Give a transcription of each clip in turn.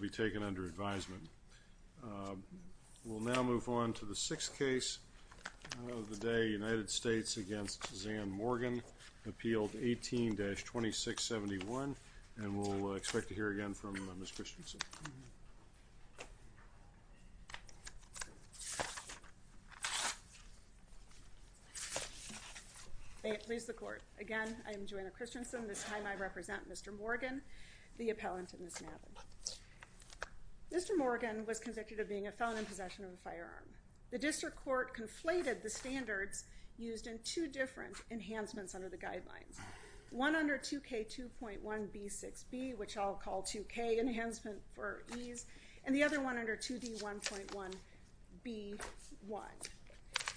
be taken under advisement. We'll now move on to the sixth case of the day, United States against Zan Morgan, Appeal 18-2671, and we'll expect to hear again from Ms. Christensen. May it please the Court. Again, I am Joanna Christensen. This time I represent Mr. Mr. Morgan was convicted of being a felon in possession of a firearm. The District Court conflated the standards used in two different enhancements under the guidelines. One under 2K 2.1b6b, which I'll call 2K enhancement for ease, and the other one under 2D 1.1b1.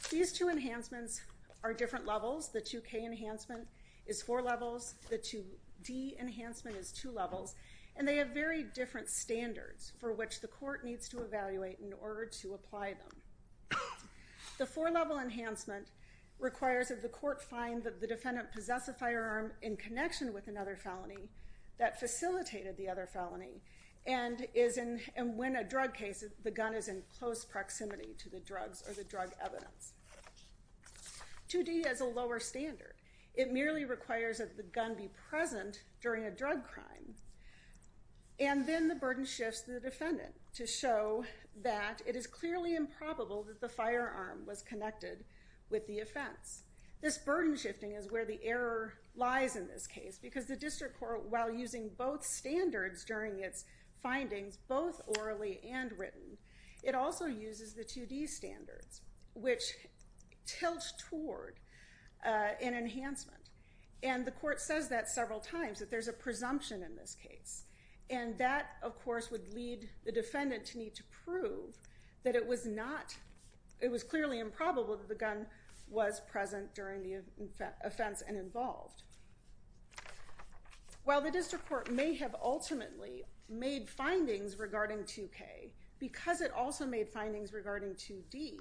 These two enhancements are different levels. The 2K enhancement is four levels, the 2D enhancement is two levels, and they have very different standards for which the court needs to evaluate in order to apply them. The four level enhancement requires that the court find that the defendant possess a firearm in connection with another felony that facilitated the other felony, and when a drug case, the gun is in close proximity to the drugs or the drug evidence. 2D has a lower standard. It merely requires that the gun be present during a drug crime, and then the burden shifts to the defendant to show that it is clearly improbable that the firearm was connected with the offense. This burden shifting is where the error lies in this case because the District Court, while using both standards during its findings, both orally and written, it also uses the 2D standards, which tilt toward an enhancement, and the court says that several times, that there's a presumption in this case, and that of course would lead the defendant to need to prove that it was not, it was clearly improbable that the gun was present during the offense and involved. While the District Court may have ultimately made findings regarding 2K, because it also made findings regarding 2D,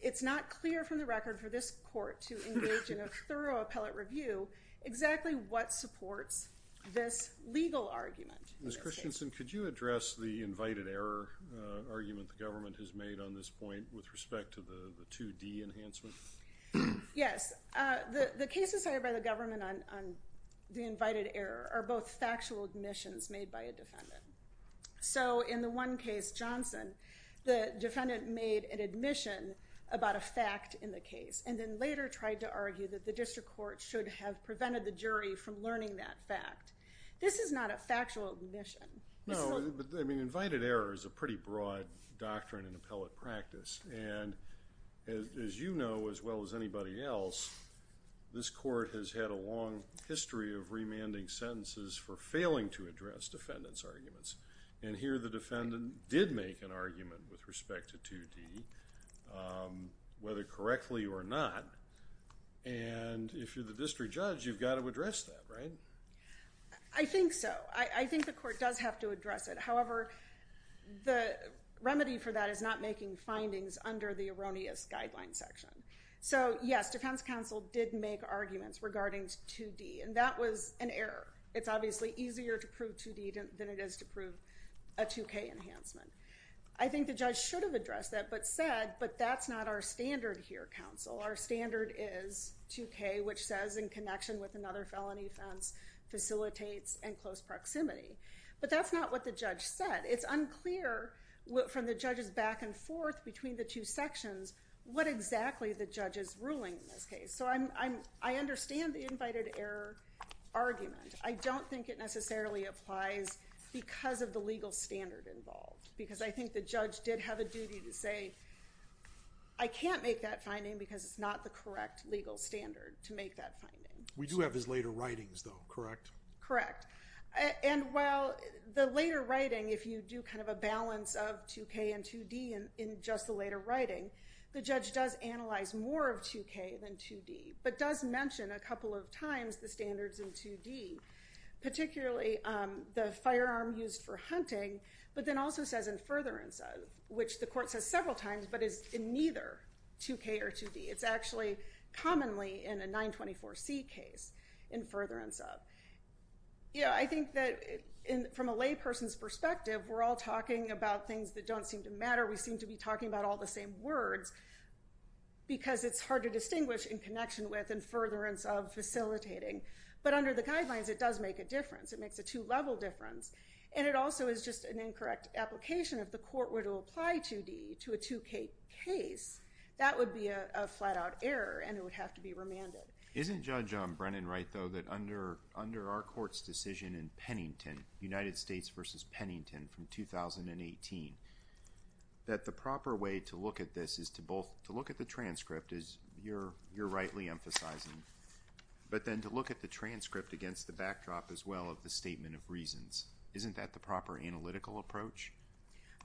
it's not clear from the record for this court to engage in a thorough appellate review exactly what supports this legal argument. Ms. Christensen, could you address the invited error argument the government has made on this point with respect to the 2D enhancement? Yes, the cases hired by the government on the invited error are both factual admissions made by a defendant. So in the one case, Johnson, the defendant made an admission about a fact in the case and then later tried to argue that the District Court should have prevented the jury from learning that fact. This is not a factual admission. No, but I mean invited error is a pretty broad doctrine in appellate practice, and as you know as well as anybody else, this court has had a long history of remanding sentences for failing to address defendants' arguments, and here the defendant did make an argument with respect to 2D, whether correctly or not, and if you're the district judge, you've got to address that, right? I think so. I think the court does have to address it. However, the remedy for that is not making findings under the erroneous guideline section. So yes, Defense Counsel did make arguments regarding 2D, and that was an error. It's obviously easier to prove 2D than it is to prove a 2K enhancement. I think the judge should have addressed that, but said, but that's not our standard here, counsel. Our standard is 2K, which says in connection with another felony offense, facilitates and close proximity. But that's not what the judge said. It's unclear from the judges back and forth between the two sections what exactly the judge is ruling in this case. So I'm I understand the invited error argument. I don't think it necessarily applies because of the legal standard involved, because I think the judge did have a duty to say, I can't make that finding because it's not the correct legal standard to make that finding. We do have his later writings though, correct? Correct. And while the later writing, if you do kind of a balance of 2K and 2D in just the later writing, the judge does analyze more of 2K than 2D, but does mention a couple of times the standards in 2D, particularly the firearm used for hunting, but then also says in furtherance of, which the court says several times, but is in neither 2K or 2D. It's actually commonly in a 924C case, in furtherance of. Yeah, I think that from a lay person's perspective, we're all talking about things that don't seem to matter. We seem to be talking about all the same words, because it's hard to distinguish in connection with and furtherance of facilitating. But under the guidelines, it does make a difference. It makes a two-level difference, and it also is just an incorrect application. If the court were to apply 2D to a 2K case, that would be a flat-out error, and it would have to be remanded. Isn't Judge Brennan right though, that under our court's decision in Pennington, United States versus Pennington from 2018, that the proper way to look at this is to both to look at the transcript, as you're you're rightly emphasizing, but then to look at the transcript against the backdrop as well of the statement of reasons. Isn't that the proper analytical approach?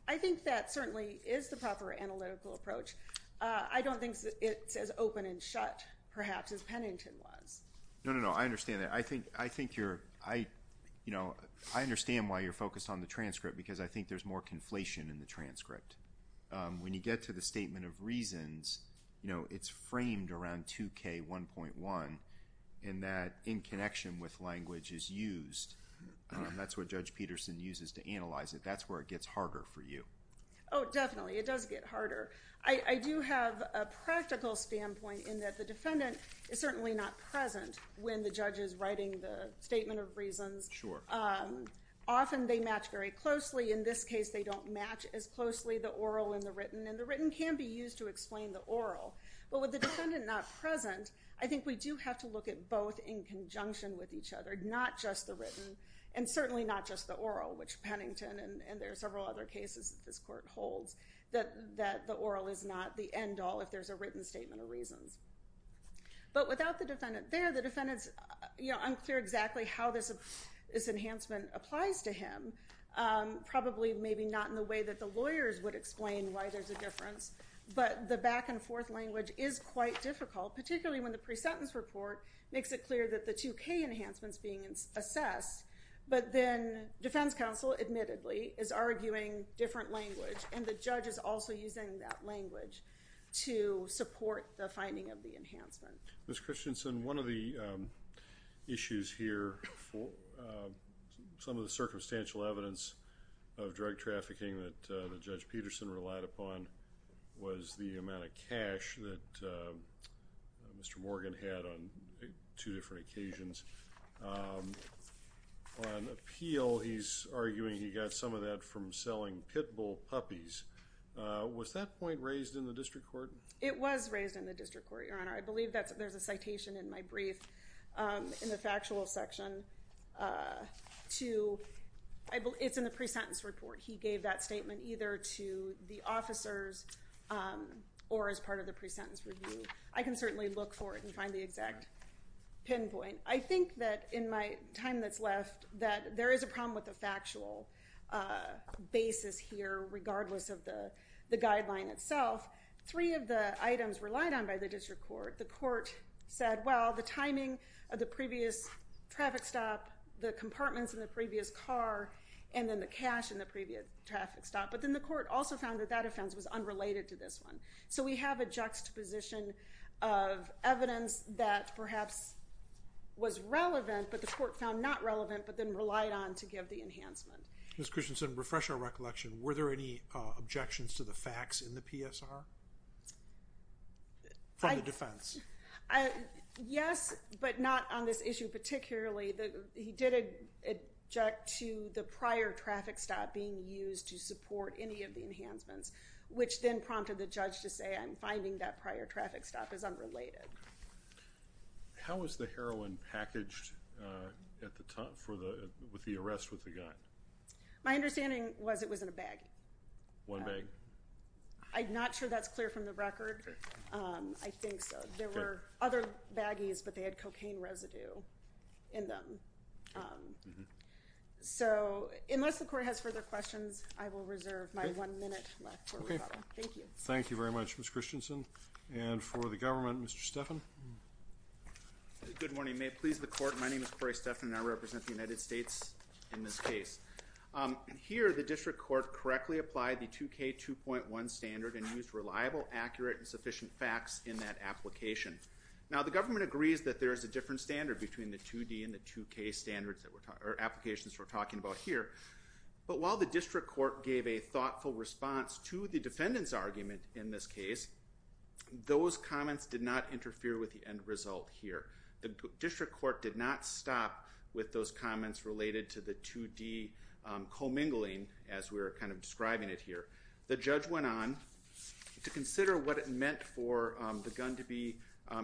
I think that certainly is the proper analytical approach. I don't think it's as open and shut, perhaps, as Pennington was. No, no, I understand that. I think, I think you're, I, you know, I understand why you're focused on the transcript, because I think there's more conflation in the transcript. When you get to the statement of reasons, you know, it's framed around 2K 1.1, and that in connection with language is used. That's what Judge Peterson uses to analyze it. That's where it gets harder for you. Oh, definitely, it does get harder. I do have a practical standpoint in that the defendant is certainly not present when the judge is writing the statement of reasons. Often, they match very closely. In this case, they don't match as closely the oral and the written, and the written can be used to explain the oral. But with the defendant not present, I think we do have to look at both in conjunction with each other, not just the written, and certainly not just the oral, which Pennington, and there are several other cases that this court holds, that, that the oral is not the end-all if there's a written statement of reasons. But without the defendant there, the defendant's, you know, unclear exactly how this enhancement applies to him. Probably, maybe not in the way that the lawyers would explain why there's a difference, but the back-and-forth language is quite difficult, particularly when the pre-sentence report makes it clear that the 2K enhancement is being assessed. But then, defense counsel admittedly is arguing different language, and the judge is also using that language to support the finding of the enhancement. Ms. Christensen, one of the issues here for some of the circumstantial evidence of drug trafficking that Judge Peterson relied upon was the amount of cash that Mr. Morgan had on two different occasions. On appeal, he's arguing he got some of that from selling pit bull puppies. Was that point raised in the district court? It was raised in the district court, Your Honor. I believe that there's a citation in my brief in the pre-sentence report. He gave that statement either to the officers or as part of the pre-sentence review. I can certainly look for it and find the exact pinpoint. I think that in my time that's left, that there is a problem with the factual basis here, regardless of the the guideline itself. Three of the items relied on by the district court, the court said, well, the timing of the compartments in the previous car, and then the cash in the previous traffic stop, but then the court also found that that offense was unrelated to this one. So we have a juxtaposition of evidence that perhaps was relevant, but the court found not relevant, but then relied on to give the enhancement. Ms. Christensen, refresh our recollection. Were there any objections to the facts in the PSR from the defense? Yes, but not on this issue particularly. He did object to the prior traffic stop being used to support any of the enhancements, which then prompted the judge to say I'm finding that prior traffic stop is unrelated. How was the heroin packaged at the time for the with the arrest with the gun? My understanding was it was in a bag. One bag? I'm not sure that's clear from the evidence. I don't think so. There were other baggies, but they had cocaine residue in them. So unless the court has further questions, I will reserve my one minute left. Thank you. Thank you very much, Ms. Christensen. And for the government, Mr. Stephan. Good morning. May it please the court, my name is Cory Stephan, and I represent the United States in this case. Here, the district court correctly applied the 2k 2.1 standard and used reliable, accurate, and application. Now the government agrees that there is a different standard between the 2d and the 2k standards that we're talking, or applications we're talking about here, but while the district court gave a thoughtful response to the defendant's argument in this case, those comments did not interfere with the end result here. The district court did not stop with those comments related to the 2d commingling, as we were kind of describing it here. The judge went on to consider what it meant for the gun to be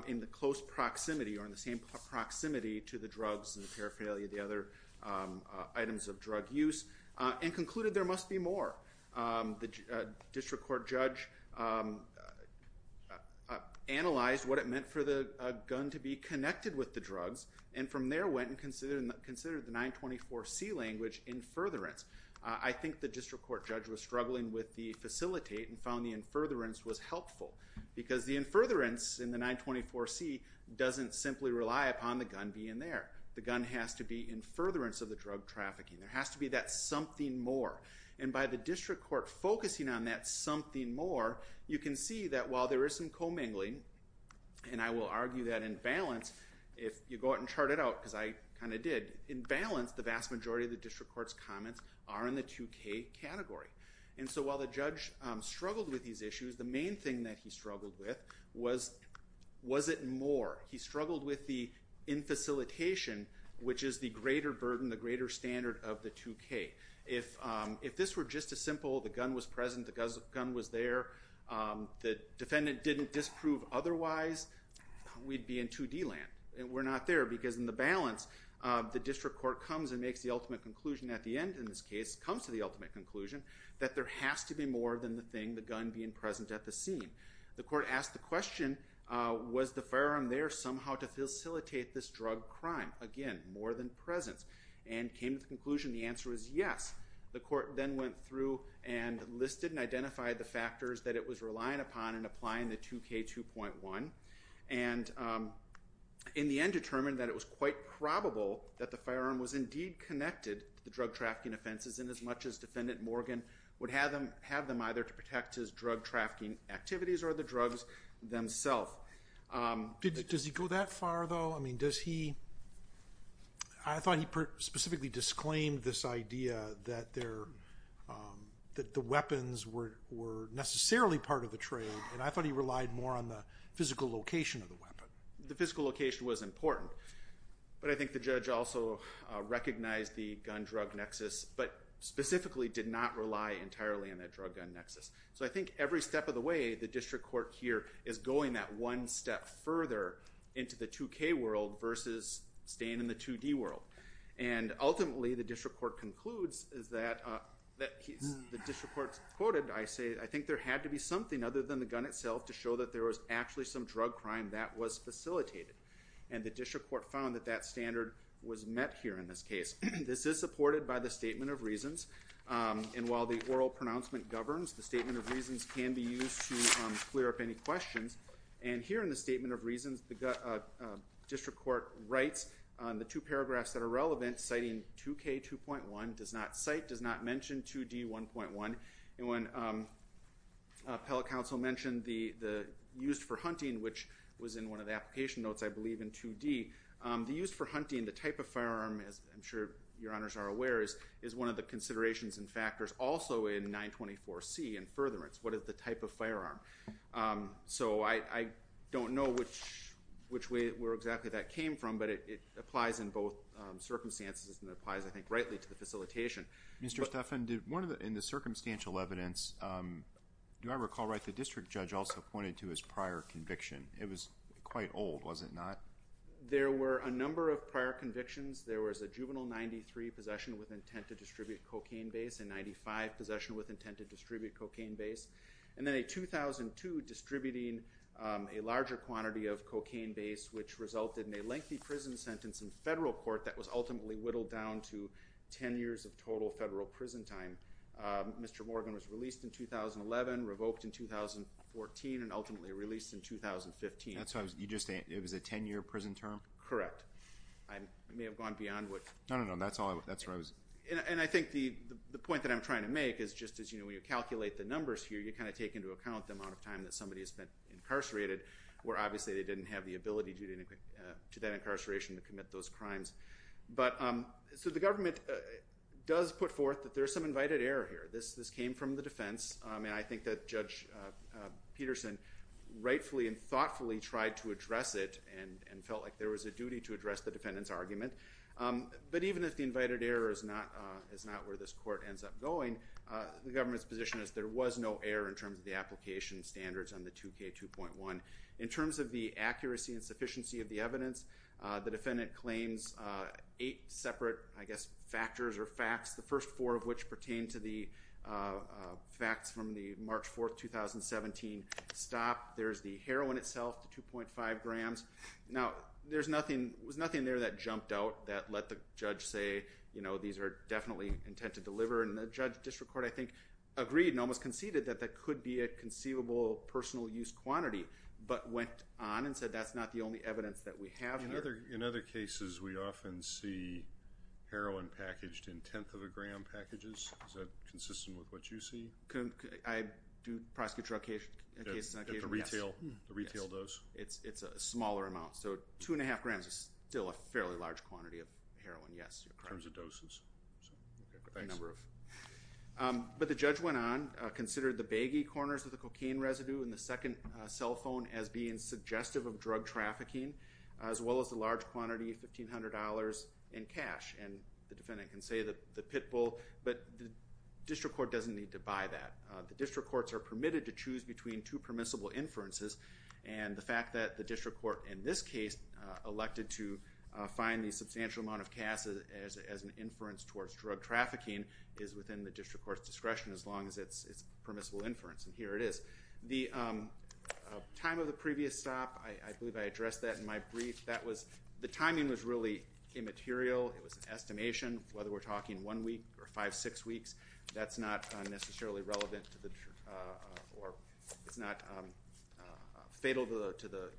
in the close proximity, or in the same proximity to the drugs and the paraphernalia, the other items of drug use, and concluded there must be more. The district court judge analyzed what it meant for the gun to be connected with the drugs, and from there went and considered the 924c language in furtherance. I think the district court judge was struggling with the facilitate and found the in furtherance was helpful, because the in furtherance in the 924c doesn't simply rely upon the gun being there. The gun has to be in furtherance of the drug trafficking. There has to be that something more, and by the district court focusing on that something more, you can see that while there is some commingling, and I will argue that in balance, if you go out and chart it out, because I kind of did, in balance the vast majority of the district court's comments are in the 2k category. And so while the judge struggled with these issues, the main thing that he struggled with was, was it more? He struggled with the in facilitation, which is the greater burden, the greater standard of the 2k. If this were just as simple, the gun was present, the gun was there, the defendant didn't disprove otherwise, we'd be in 2d land. And we're not there, because in the balance, the district court comes and makes the ultimate conclusion at the end in this case, comes to the ultimate conclusion, that there has to be more than the thing, the gun being present at the scene. The court asked the question, was the firearm there somehow to facilitate this drug crime? Again, more than presence. And came to the conclusion, the answer is yes. The court then went through and listed and identified the factors that it was relying upon in applying the 2k 2.1, and in the end determined that it was quite probable that the firearm was indeed connected to the drug trafficking offenses, in as much as Defendant Morgan would have them have them either to protect his drug trafficking activities or the drugs themself. Does he go that far though? I mean, does he, I thought he specifically disclaimed this idea that there, that the weapons were necessarily part of the trade, and I thought he relied more on the physical location of the weapon. The physical location was important, but I think the judge also recognized the gun-drug nexus, but specifically did not rely entirely on that drug-gun nexus. So I think every step of the way, the district court here is going that one step further into the 2k world versus staying in the 2d world. And ultimately the district court concludes is that, the district court quoted, I say, I think there had to be something other than the gun itself to show that there was actually some drug crime that was facilitated. And the district court found that that standard was met here in this case. This is supported by the statement of reasons, and while the oral pronouncement governs, the statement of reasons can be used to clear up any questions. And here in the statement of reasons, the district court writes on the two paragraphs that are relevant, citing 2k 2.1, does not cite, does not mention 2d 1.1, and when appellate counsel mentioned the used for hunting, which was in one of the application notes, I believe in 2d, the used for hunting, the type of firearm, as I'm sure your honors are aware, is one of the considerations and factors also in 924 C and furtherance. What is the type of firearm? So I don't know which way where exactly that came from, but it applies in both circumstances and applies, I think, rightly to the facilitation. Mr. Stephan, in the district judge also pointed to his prior conviction. It was quite old, was it not? There were a number of prior convictions. There was a juvenile 93 possession with intent to distribute cocaine base, and 95 possession with intent to distribute cocaine base, and then a 2002 distributing a larger quantity of cocaine base, which resulted in a lengthy prison sentence in federal court that was ultimately whittled down to 10 years of total federal prison time. Mr. Morgan was released in 2011, revoked in 2014, and ultimately released in 2015. That's how you just, it was a 10-year prison term? Correct. I may have gone beyond what... No, no, no, that's all, that's where I was... And I think the point that I'm trying to make is just as, you know, when you calculate the numbers here, you kind of take into account the amount of time that somebody has spent incarcerated, where obviously they didn't have the ability due to that incarceration to commit those crimes. But so the government does put forth that there's some invited error here. This came from the defense, and I think that Judge Peterson rightfully and thoughtfully tried to address it and felt like there was a duty to address the defendant's argument. But even if the invited error is not where this court ends up going, the government's position is there was no error in terms of the application standards on the 2k 2.1. In terms of the accuracy and sufficiency of the evidence, the defendant claims eight separate, I guess, factors or facts, the first four of which pertain to the facts from the March 4th, 2017 stop. There's the heroin itself, the 2.5 grams. Now there's nothing, there was nothing there that jumped out that let the judge say, you know, these are definitely intent to deliver. And the district court, I think, agreed and almost conceded that that could be a conceivable personal use quantity, but went on and said that's not the only evidence that we have here. In other cases we often see heroin packaged in Is that consistent with what you see? I do prosecute drug cases on occasion, yes. The retail dose? It's a smaller amount, so two and a half grams is still a fairly large quantity of heroin, yes. In terms of doses. But the judge went on, considered the baggy corners of the cocaine residue in the second cell phone as being suggestive of drug trafficking, as well as the large quantity of $1,500 in cash. And the defendant can say that the pitbull, but the district court doesn't need to buy that. The district courts are permitted to choose between two permissible inferences, and the fact that the district court in this case elected to find the substantial amount of cash as an inference towards drug trafficking is within the district court's discretion, as long as it's permissible inference. And here it is. The time of the previous stop, I believe I material, it was an estimation, whether we're talking one week or five, six weeks, that's not necessarily relevant to the, or it's not fatal to the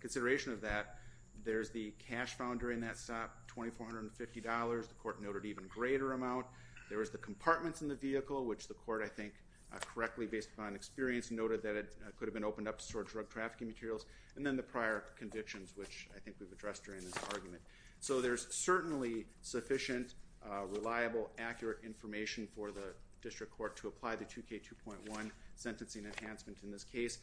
consideration of that. There's the cash found during that stop, $2,450. The court noted even greater amount. There was the compartments in the vehicle, which the court I think correctly, based upon experience, noted that it could have been opened up to store drug trafficking materials. And then the prior convictions, which I think we've addressed during this argument. So there's certainly sufficient, reliable, accurate information for the district court to apply the 2k 2.1 sentencing enhancement in this case,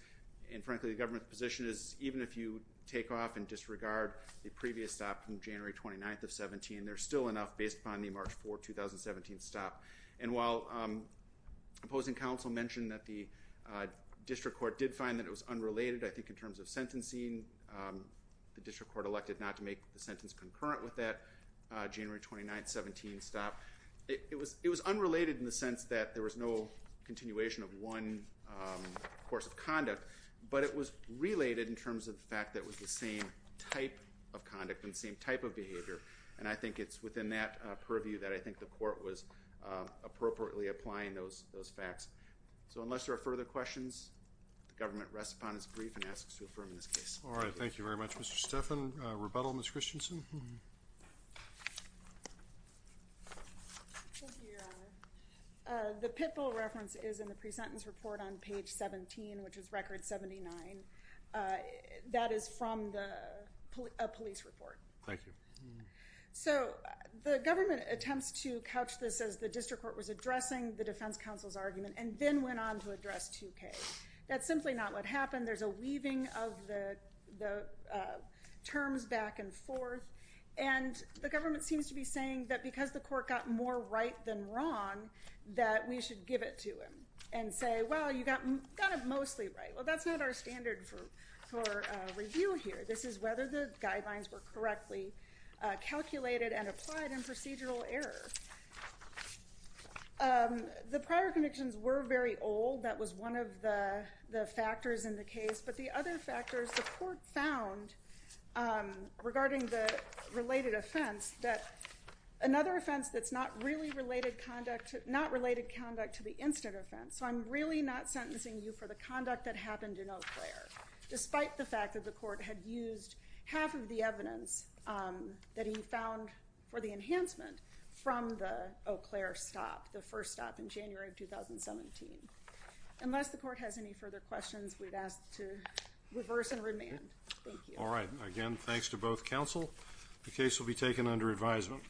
and frankly the government's position is even if you take off and disregard the previous stop from January 29th of 17, there's still enough based upon the March 4, 2017 stop. And while opposing counsel mentioned that the district court did find that it was unrelated, I think in terms of sentencing, the district court elected not to make the sentence concurrent with that January 29, 17 stop. It was unrelated in the sense that there was no continuation of one course of conduct, but it was related in terms of the fact that it was the same type of conduct and same type of behavior, and I think it's within that purview that I think the court was appropriately applying those facts. So unless there are further questions, the government rests upon its brief and asks to affirm in this case. All right, thank you very much Mr. Steffen. Rebuttal, Ms. Christensen? The pit bull reference is in the pre-sentence report on page 17, which is record 79. That is from the police report. Thank you. So the government attempts to couch this as the district court was addressing the defense counsel's argument and then went on to address 2K. That's simply not what happened. There's a weaving of the terms back and forth, and the government seems to be saying that because the court got more right than wrong, that we should give it to him and say, well, you got mostly right. Well, that's not our standard for review here. This is whether the guidelines were correctly calculated and applied in procedural error. The prior convictions were very old. That was one of the factors in the case, but the other factors the court found regarding the related offense, that another offense that's not really related conduct, not related conduct to the instant offense. So I'm really not sentencing you for the conduct that happened in Eau Claire, despite the fact that the court had used half of the evidence that he found for the enhancement from the Eau Claire stop, the first stop in January of 2017. Unless the court has any further questions, we'd ask to reverse and remand. All right. Again, thanks to both counsel. The case will be taken under advisement.